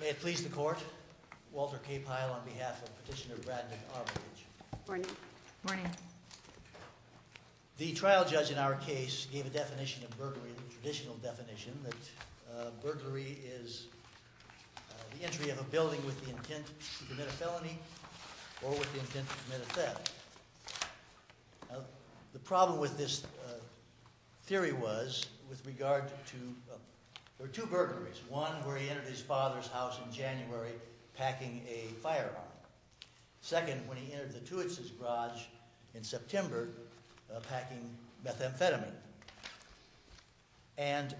May it please the court, Walter K. Pyle on behalf of Petitioner Bradman Armitage. The trial judge in our case gave a definition of burglary, a traditional definition, that burglary is the entry of a building with the intent to commit a felony or with the intent to commit a theft. The problem with this theory was with regard to, there were two burglaries, one where he entered his father's house in January packing a firearm, second when he entered the Tewitz's garage in September packing methamphetamine. And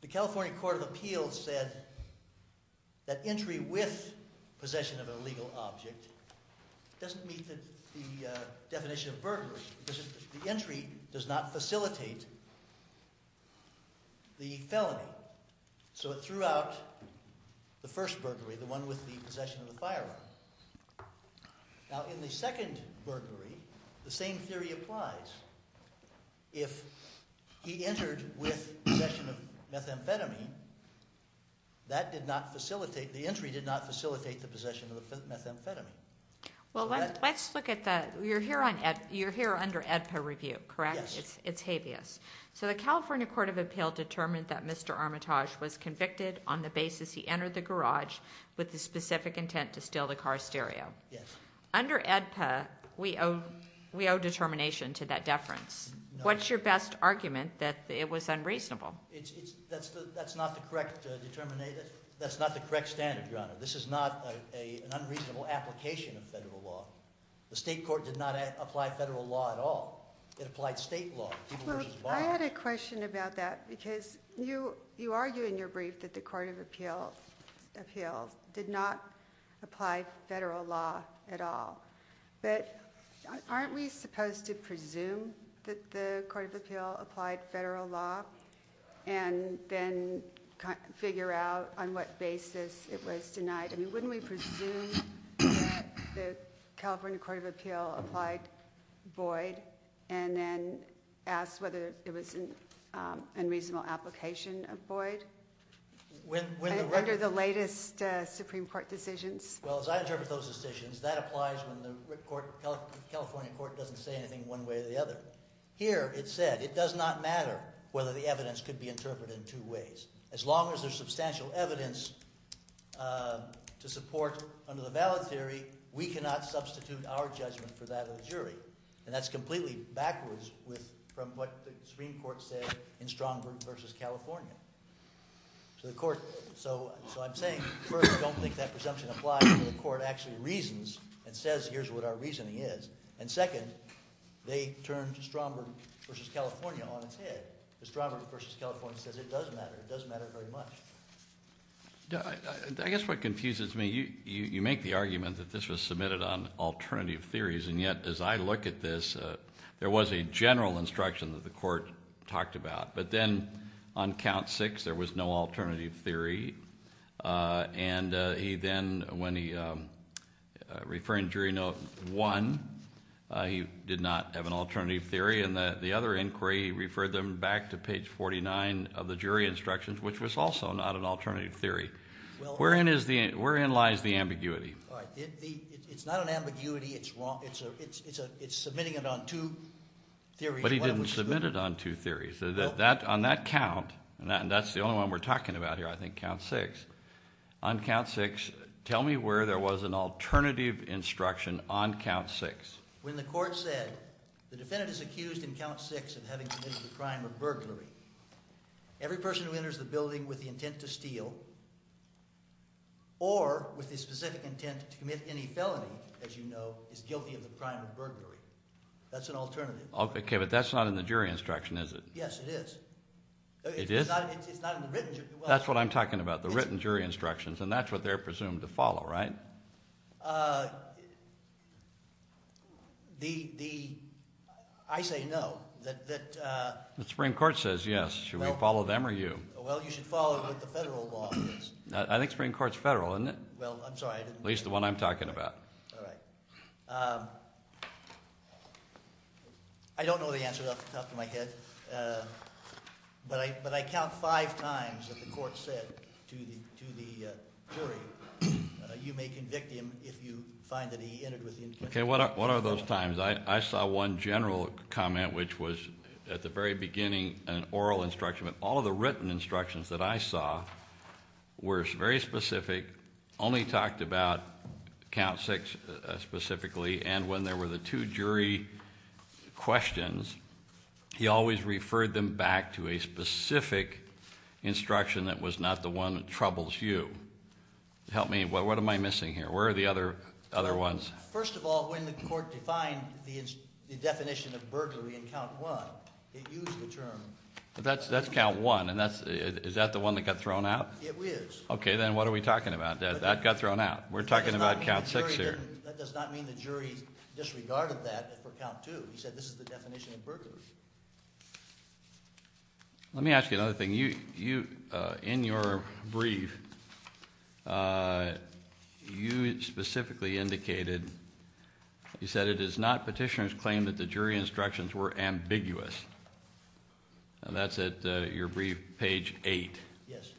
the California Court of Appeals said that entry with possession of an illegal object doesn't meet the definition of burglary because the entry does not facilitate the felony. So it threw out the first burglary, the one with the possession of the firearm. Now in the second burglary, the same theory applies. If he entered with possession of methamphetamine, that did not facilitate, the entry did not Well let's look at the, you're here under AEDPA review, correct? Yes. It's habeas. So the California Court of Appeals determined that Mr. Armitage was convicted on the basis he entered the garage with the specific intent to steal the car stereo. Yes. Under AEDPA, we owe determination to that deference. What's your best argument that it was unreasonable? That's not the correct standard, Your Honor. This is not an unreasonable application of federal law. The state court did not apply federal law at all. It applied state law. Well, I had a question about that because you argue in your brief that the Court of Appeals did not apply federal law at all. But aren't we supposed to presume that the Court of Appeals applied federal law and then figure out on what basis it was denied? I mean, wouldn't we presume the California Court of Appeals applied void and then ask whether it was an unreasonable application of void under the latest Supreme Court decisions? Well, as I interpret those decisions, that applies when the California Court doesn't say anything one way or the other. But here it said it does not matter whether the evidence could be interpreted in two ways. As long as there's substantial evidence to support under the valid theory, we cannot substitute our judgment for that of the jury. And that's completely backwards from what the Supreme Court said in Strong v. California. So I'm saying, first, don't think that presumption applies when the court actually reasons and says, here's what our reasoning is. And second, they turned Strong v. California on its head. Strong v. California says it does matter. It does matter very much. I guess what confuses me, you make the argument that this was submitted on alternative theories. And yet, as I look at this, there was a general instruction that the court talked about. But then on count six, there was no alternative theory. And he then, when he referred in jury note one, he did not have an alternative theory. And the other inquiry referred them back to page 49 of the jury instructions, which was also not an alternative theory. Wherein lies the ambiguity? It's not an ambiguity. It's wrong. It's submitting it on two theories. But he didn't submit it on two theories. On that count, and that's the only one we're talking about here, I think, count six. On count six, tell me where there was an alternative instruction on count six. When the court said, the defendant is accused in count six of having committed the crime of burglary. Every person who enters the building with the intent to steal or with the specific intent to commit any felony, as you know, is guilty of the crime of burglary. That's an alternative. Okay, but that's not in the jury instruction, is it? Yes, it is. It is? It's not in the written jury instruction. That's what I'm talking about, the written jury instructions. And that's what they're presumed to follow, right? I say no. The Supreme Court says yes. Should we follow them or you? Well, you should follow what the federal law is. I think the Supreme Court's federal, isn't it? Well, I'm sorry, I didn't mean to. At least the one I'm talking about. All right. I don't know the answer off the top of my head. But I count five times that the court said to the jury, you may convict him if you find that he entered with the intent to steal. Okay, what are those times? I saw one general comment, which was at the very beginning an oral instruction. But all of the written instructions that I saw were very specific, only talked about count six specifically. And when there were the two jury questions, he always referred them back to a specific instruction that was not the one that troubles you. Help me. What am I missing here? Where are the other ones? First of all, when the court defined the definition of burglary in count one, it used the term. That's count one. Is that the one that got thrown out? It is. Okay, then what are we talking about? That got thrown out. We're talking about count six here. That does not mean the jury disregarded that for count two. He said this is the definition of burglary. Let me ask you another thing. In your brief, you specifically indicated, you said it is not petitioner's claim that the jury instructions were ambiguous. And that's at your brief, page eight. Yes.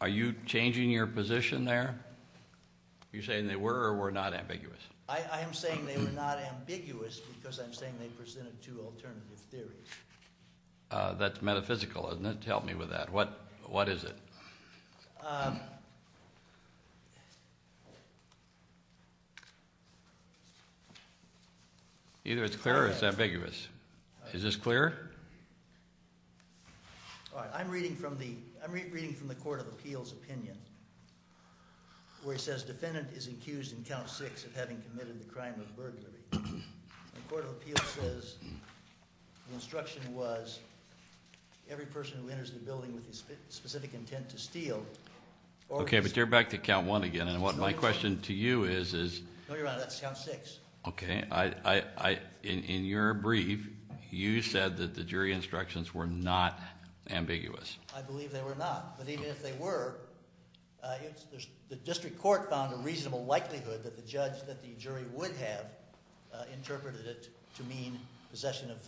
Are you changing your position there? Are you saying they were or were not ambiguous? I am saying they were not ambiguous because I'm saying they presented two alternative theories. That's metaphysical, isn't it? Help me with that. What is it? Either it's clear or it's ambiguous. Is this clear? All right. I'm reading from the court of appeals opinion where it says defendant is accused in count six of having committed the crime of burglary. The court of appeals says the instruction was every person who enters the building with the specific intent to steal. Okay, but you're back to count one again. And what my question to you is. No, Your Honor, that's count six. Okay. In your brief, you said that the jury instructions were not ambiguous. I believe they were not. But even if they were, the district court found a reasonable likelihood that the judge, that the jury would have interpreted it to mean possession of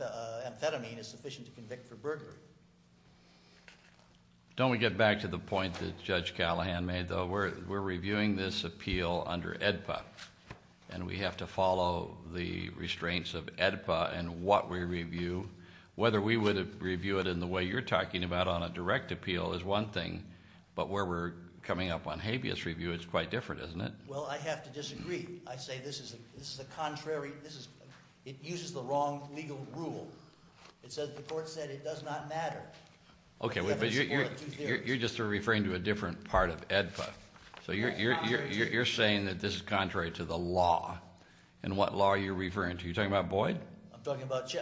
amphetamine is sufficient to convict for burglary. Don't we get back to the point that Judge Callahan made, though? We're reviewing this appeal under AEDPA. And we have to follow the restraints of AEDPA in what we review. Whether we would review it in the way you're talking about on a direct appeal is one thing. But where we're coming up on habeas review, it's quite different, isn't it? Well, I have to disagree. I say this is a contrary, it uses the wrong legal rule. It says the court said it does not matter. Okay, but you're just referring to a different part of AEDPA. So you're saying that this is contrary to the law. And what law are you referring to? Are you talking about Boyd? I'm talking about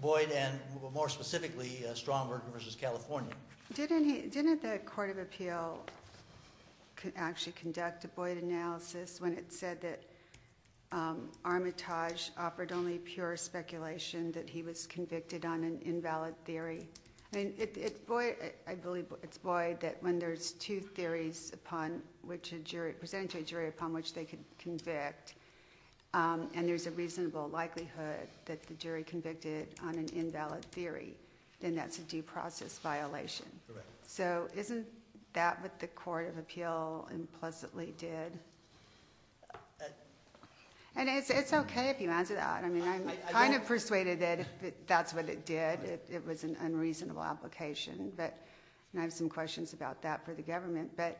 Boyd and, more specifically, Strongberg v. California. Didn't the court of appeal actually conduct a Boyd analysis when it said that Armitage offered only pure speculation that he was convicted on an invalid theory? I believe it's Boyd that when there's two theories presented to a jury upon which they can convict, and there's a reasonable likelihood that the jury convicted on an invalid theory, then that's a due process violation. So isn't that what the court of appeal implicitly did? And it's okay if you answer that. I'm kind of persuaded that that's what it did. It was an unreasonable application, and I have some questions about that for the government. But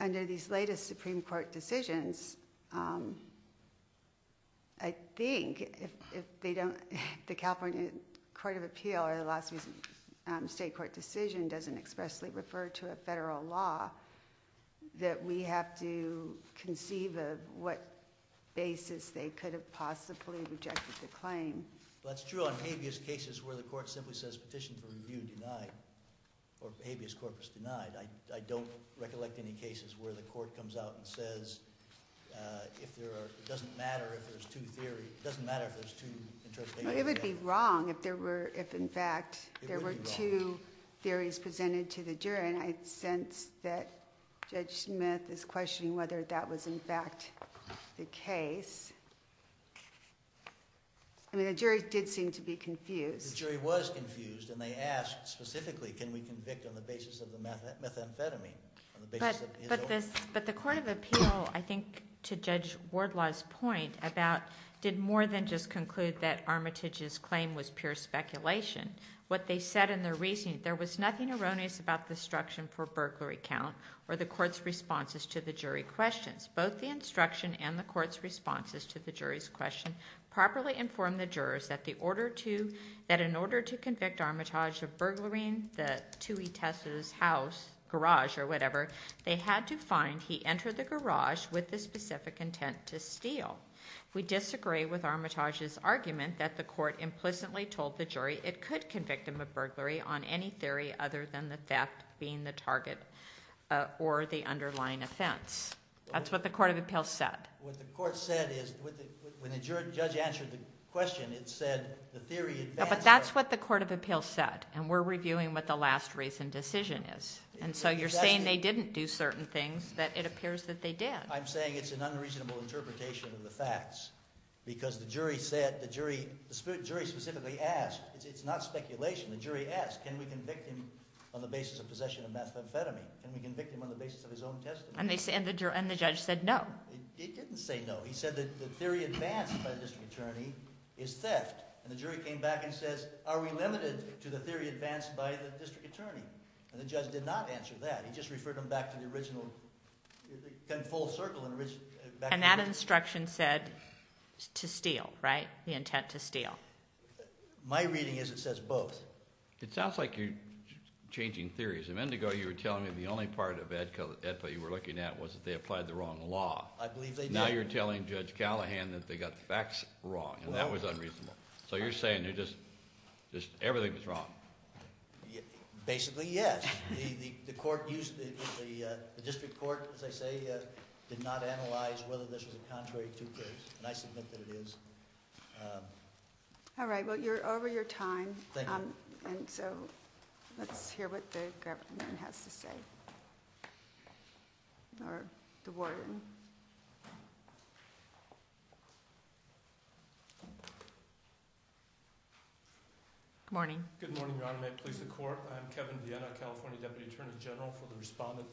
under these latest Supreme Court decisions, I think if the California court of appeal or the last state court decision doesn't expressly refer to a federal law, that we have to conceive of what basis they could have possibly rejected the claim. That's true on habeas cases where the court simply says petition for review denied or habeas corpus denied. I don't recollect any cases where the court comes out and says it doesn't matter if there's two theories. It doesn't matter if there's two interpretations. It would be wrong if, in fact, there were two theories presented to the jury, and I sense that Judge Smith is questioning whether that was, in fact, the case. I mean, the jury did seem to be confused. The jury was confused, and they asked specifically, can we convict on the basis of the methamphetamine? But the court of appeal, I think, to Judge Wardlaw's point, did more than just conclude that Armitage's claim was pure speculation. What they said in their reasoning, there was nothing erroneous about the instruction for burglary count or the court's responses to the jury questions. Both the instruction and the court's responses to the jury's question properly informed the jurors that in order to convict Armitage of burglary, that to Etessa's house, garage, or whatever, they had to find he entered the garage with the specific intent to steal. We disagree with Armitage's argument that the court implicitly told the jury it could convict him of burglary on any theory other than the theft being the target or the underlying offense. That's what the court of appeal said. What the court said is, when the judge answered the question, it said the theory advanced- But that's what the court of appeal said, and we're reviewing what the last reasoned decision is. And so you're saying they didn't do certain things that it appears that they did. I'm saying it's an unreasonable interpretation of the facts because the jury said, the jury specifically asked, it's not speculation. The jury asked, can we convict him on the basis of possession of methamphetamine? Can we convict him on the basis of his own testimony? And the judge said no. It didn't say no. He said that the theory advanced by the district attorney is theft. And the jury came back and says, are we limited to the theory advanced by the district attorney? And the judge did not answer that. He just referred them back to the original- And that instruction said to steal, right? The intent to steal. My reading is it says both. It sounds like you're changing theories. A minute ago, you were telling me the only part of the equity you were looking at was that they applied the wrong law. I believe they did. Now you're telling Judge Callahan that they got the facts wrong, and that was unreasonable. So you're saying that just everything was wrong. Basically, yes. The court used the district court, as I say, did not analyze whether this was a contrary to proof, and I submit that it is. Well, you're over your time. Thank you. And so let's hear what the governor has to say, or the warden. Good morning. Good morning, Your Honor. May it please the court. I'm Kevin Vienna, California Deputy Attorney General, for the respondent.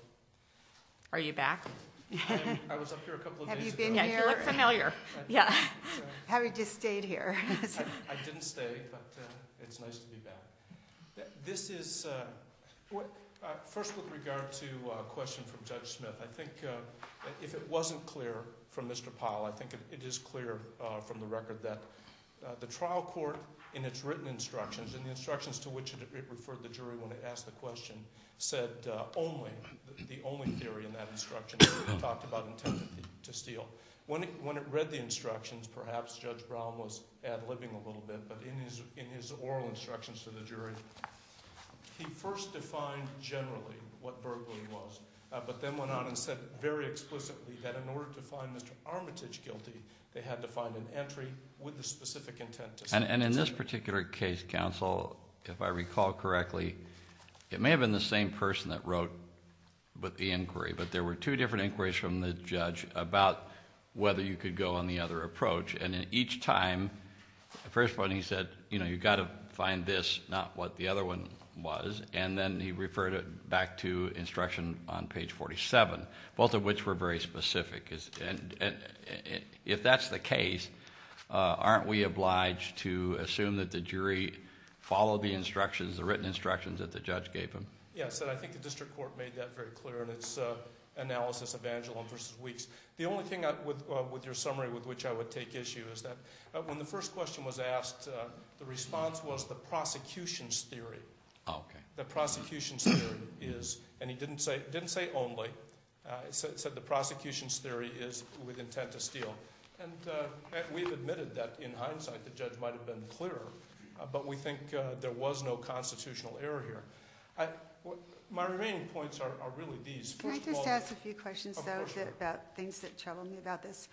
Are you back? I was up here a couple of days ago. You look familiar. Yeah. Have you just stayed here? I didn't stay, but it's nice to be back. This is – first, with regard to a question from Judge Smith, I think if it wasn't clear from Mr. Powell, I think it is clear from the record that the trial court, in its written instructions, and the instructions to which it referred the jury when it asked the question, said only – the only theory in that instruction – talked about intent to steal. When it read the instructions, perhaps Judge Brown was ad-libbing a little bit, but in his oral instructions to the jury, he first defined generally what burglary was, but then went on and said very explicitly that in order to find Mr. Armitage guilty, they had to find an entry with the specific intent to steal. And in this particular case, counsel, if I recall correctly, it may have been the same person that wrote the inquiry, but there were two different inquiries from the judge about whether you could go on the other approach, and in each time, the first one he said, you know, you've got to find this, not what the other one was, and then he referred it back to instruction on page 47, both of which were very specific. And if that's the case, aren't we obliged to assume that the jury followed the instructions, the written instructions that the judge gave them? Yes, and I think the district court made that very clear in its analysis of Angelon v. Weeks. The only thing with your summary with which I would take issue is that when the first question was asked, the response was the prosecution's theory. The prosecution's theory is, and he didn't say only, he said the prosecution's theory is with intent to steal. And we've admitted that in hindsight the judge might have been clearer, but we think there was no constitutional error here. My remaining points are really these. Can I just ask a few questions, though, about things that trouble me about this?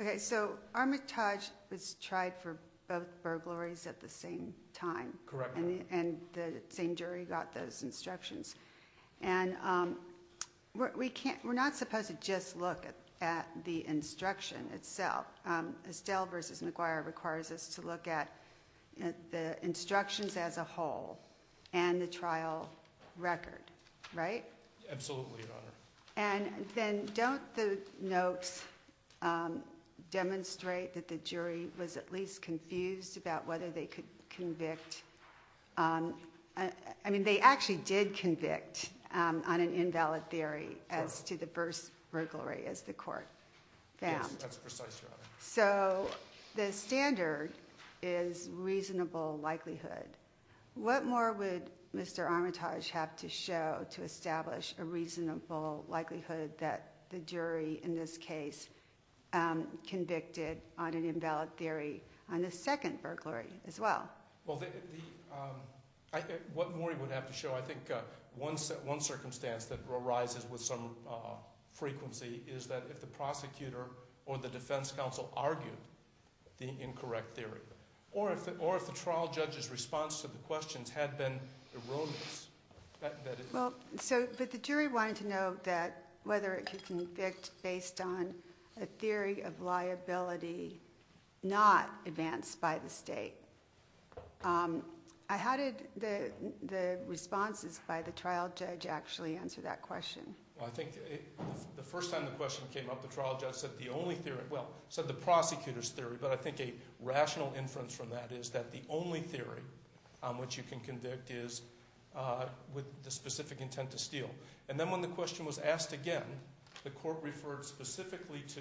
Okay, so Armitage was tried for both burglaries at the same time. Correct. And the same jury got those instructions. And we're not supposed to just look at the instruction itself. Estelle v. McGuire requires us to look at the instructions as a whole and the trial record, right? Absolutely, Your Honor. And then don't the notes demonstrate that the jury was at least confused about whether they could convict? I mean, they actually did convict on an invalid theory as to the first burglary as the court found. Yes, that's precise, Your Honor. So the standard is reasonable likelihood. What more would Mr. Armitage have to show to establish a reasonable likelihood that the jury in this case convicted on an invalid theory on the second burglary as well? Well, what more he would have to show, I think one circumstance that arises with some frequency is that if the prosecutor or the defense counsel argued the incorrect theory. Or if the trial judge's response to the questions had been erroneous. But the jury wanted to know whether it could convict based on a theory of liability not advanced by the state. How did the responses by the trial judge actually answer that question? Well, I think the first time the question came up, the trial judge said the only theory – well, said the prosecutor's theory. But I think a rational inference from that is that the only theory on which you can convict is with the specific intent to steal. And then when the question was asked again, the court referred specifically to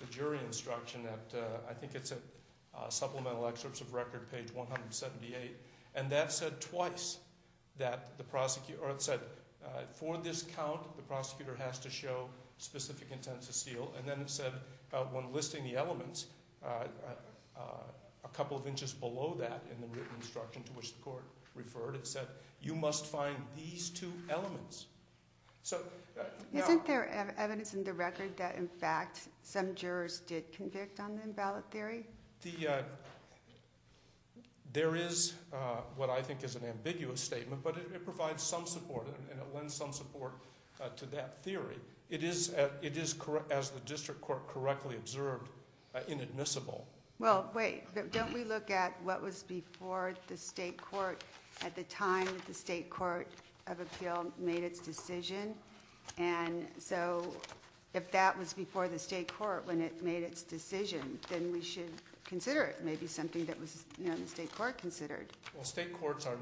the jury instruction at – I think it's at Supplemental Excerpts of Record, page 178. And that said twice that the prosecutor – or it said for this count, the prosecutor has to show specific intent to steal. And then it said when listing the elements, a couple of inches below that in the written instruction to which the court referred, it said you must find these two elements. Isn't there evidence in the record that in fact some jurors did convict on an invalid theory? I think the – there is what I think is an ambiguous statement, but it provides some support and it lends some support to that theory. It is, as the district court correctly observed, inadmissible. Well, wait. Don't we look at what was before the state court at the time that the state court of appeal made its decision? And so if that was before the state court when it made its decision, then we should consider it maybe something that was, you know, the state court considered. Well, state courts are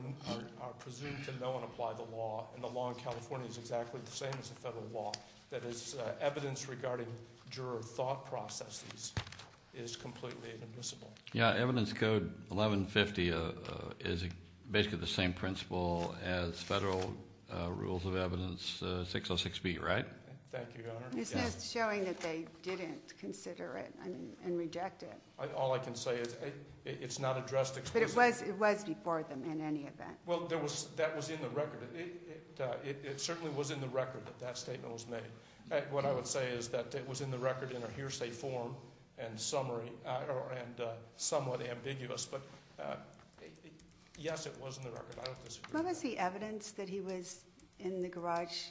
presumed to know and apply the law, and the law in California is exactly the same as the federal law. That is, evidence regarding juror thought processes is completely inadmissible. Yeah, evidence code 1150 is basically the same principle as federal rules of evidence 606B, right? Thank you, Your Honor. It's just showing that they didn't consider it and reject it. All I can say is it's not addressed explicitly. But it was before them in any event. Well, that was in the record. It certainly was in the record that that statement was made. What I would say is that it was in the record in a hearsay form and somewhat ambiguous. But yes, it was in the record. I don't disagree with that. What was the evidence that he was in the garage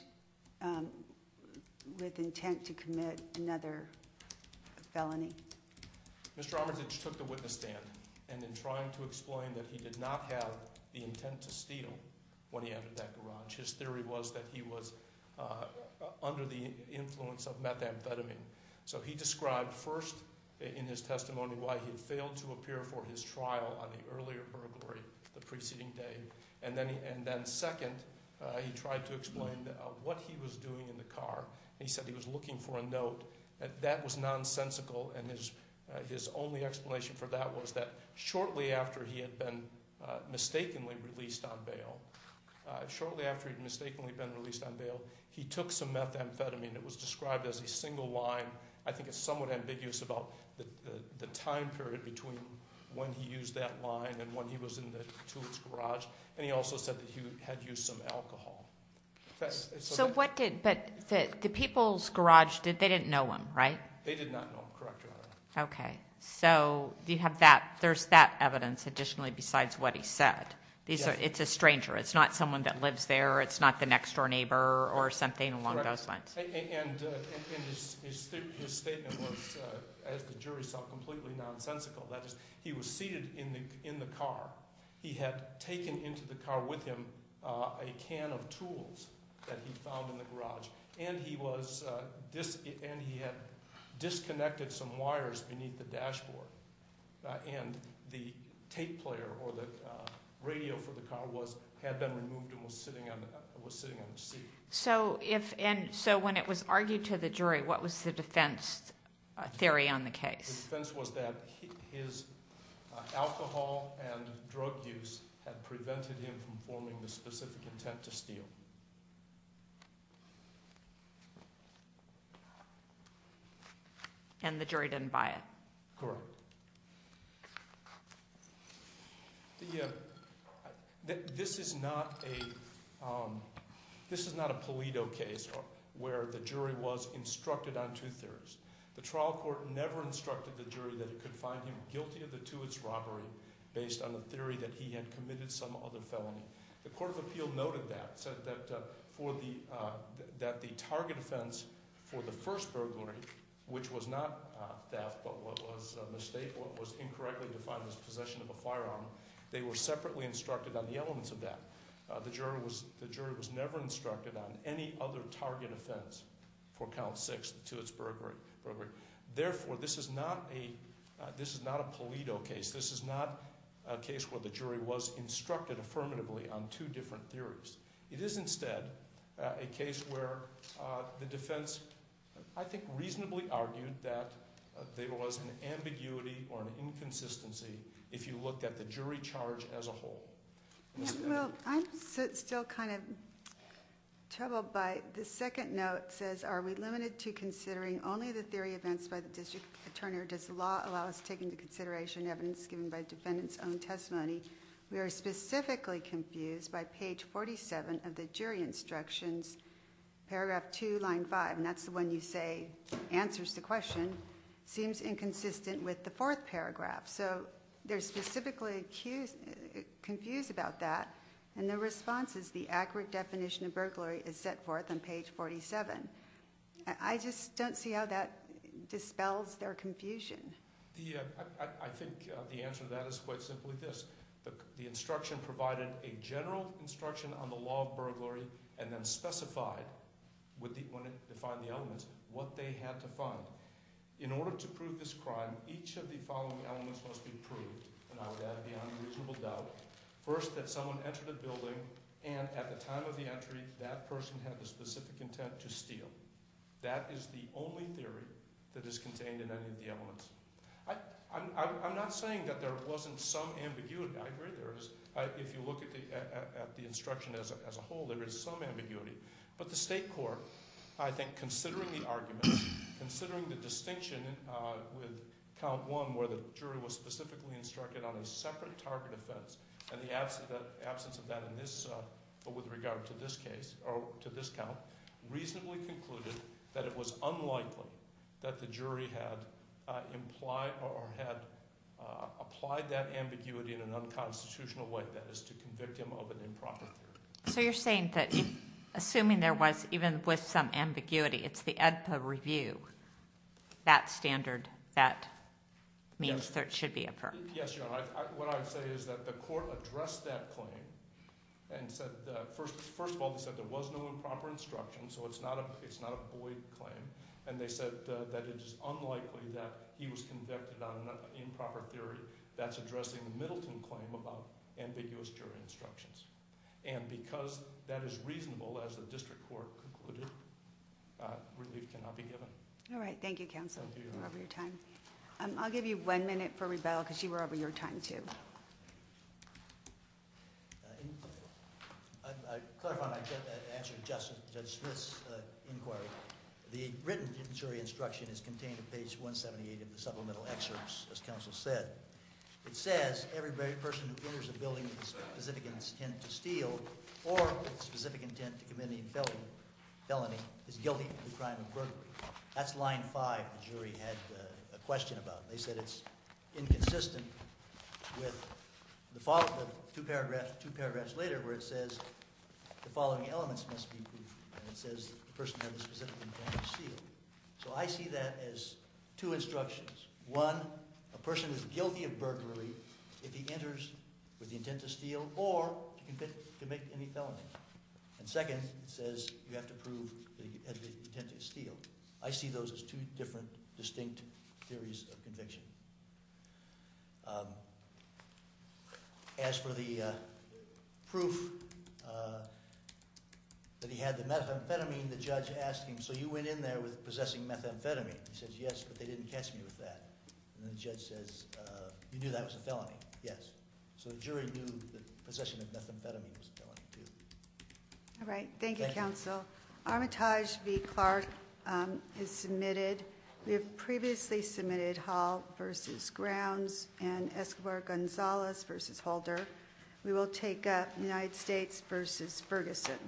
with intent to commit another felony? Mr. Armitage took the witness stand and in trying to explain that he did not have the intent to steal when he entered that garage. His theory was that he was under the influence of methamphetamine. So he described first in his testimony why he had failed to appear for his trial on the earlier burglary the preceding day. And then second, he tried to explain what he was doing in the car. He said he was looking for a note. That was nonsensical. And his only explanation for that was that shortly after he had been mistakenly released on bail, shortly after he'd mistakenly been released on bail, he took some methamphetamine. It was described as a single line. I think it's somewhat ambiguous about the time period between when he used that line and when he was in the Tewitt's garage. And he also said that he had used some alcohol. But the people's garage, they didn't know him, right? They did not know him, correct, Your Honor. Okay. So there's that evidence additionally besides what he said. It's a stranger. It's not someone that lives there. It's not the next door neighbor or something along those lines. And his statement was, as the jury saw, completely nonsensical. That is, he was seated in the car. He had taken into the car with him a can of tools that he found in the garage, and he had disconnected some wires beneath the dashboard, and the tape player or the radio for the car had been removed and was sitting on the seat. So when it was argued to the jury, what was the defense theory on the case? The defense was that his alcohol and drug use had prevented him from forming the specific intent to steal. And the jury didn't buy it. Correct. This is not a Pulido case where the jury was instructed on two theories. The trial court never instructed the jury that it could find him guilty of the Tewits robbery based on the theory that he had committed some other felony. The court of appeal noted that, said that the target offense for the first burglary, which was not theft but what was a mistake, what was incorrectly defined as possession of a firearm, they were separately instructed on the elements of that. The jury was never instructed on any other target offense for count six, the Tewits burglary. Therefore, this is not a Pulido case. This is not a case where the jury was instructed affirmatively on two different theories. It is instead a case where the defense, I think, reasonably argued that there was an ambiguity or an inconsistency if you looked at the jury charge as a whole. Well, I'm still kind of troubled by the second note says, are we limited to considering only the theory events by the district attorney or does the law allow us to take into consideration evidence given by defendants' own testimony? We are specifically confused by page 47 of the jury instructions, paragraph 2, line 5, and that's the one you say answers the question, seems inconsistent with the fourth paragraph. So they're specifically confused about that. And the response is the accurate definition of burglary is set forth on page 47. I just don't see how that dispels their confusion. I think the answer to that is quite simply this. The instruction provided a general instruction on the law of burglary and then specified when it defined the elements what they had to find. In order to prove this crime, each of the following elements must be proved, and I would add beyond reasonable doubt, first that someone entered a building and at the time of the entry that person had the specific intent to steal. That is the only theory that is contained in any of the elements. I'm not saying that there wasn't some ambiguity. I agree there is. If you look at the instruction as a whole, there is some ambiguity. But the state court, I think, considering the argument, considering the distinction with count 1 where the jury was specifically instructed on a separate target offense and the absence of that in this but with regard to this case or to this count, reasonably concluded that it was unlikely that the jury had implied or had applied that ambiguity in an unconstitutional way, that is to convict him of an improper theory. So you're saying that assuming there was even with some ambiguity, it's the AEDPA review, that standard, that means there should be a verdict. Yes, Your Honor. What I would say is that the court addressed that claim and said, first of all, they said there was no improper instruction, so it's not a void claim, and they said that it is unlikely that he was convicted on an improper theory. That's addressing the Middleton claim about ambiguous jury instructions. And because that is reasonable as the district court concluded, relief cannot be given. All right. Thank you, counsel, for your time. I'll give you one minute for rebuttal because you were over your time, too. I clarify my answer to Judge Smith's inquiry. The written jury instruction is contained in page 178 of the supplemental excerpts, as counsel said. It says, every person who enters a building with a specific intent to steal or with a specific intent to commit a felony is guilty of the crime of burglary. That's line five the jury had a question about. They said it's inconsistent with the two paragraphs later where it says, the following elements must be proved, and it says the person has a specific intent to steal. So I see that as two instructions. One, a person is guilty of burglary if he enters with the intent to steal or to commit any felony. And second, it says you have to prove the intent to steal. I see those as two different distinct theories of conviction. As for the proof that he had the methamphetamine, the judge asked him, so you went in there with possessing methamphetamine. He says, yes, but they didn't catch me with that. And the judge says, you knew that was a felony. Yes. So the jury knew that possession of methamphetamine was a felony, too. All right. Thank you, counsel. Armitage v. Clark is submitted. We have previously submitted Hall v. Grounds and Escobar-Gonzalez v. Holder. We will take up United States v. Ferguson.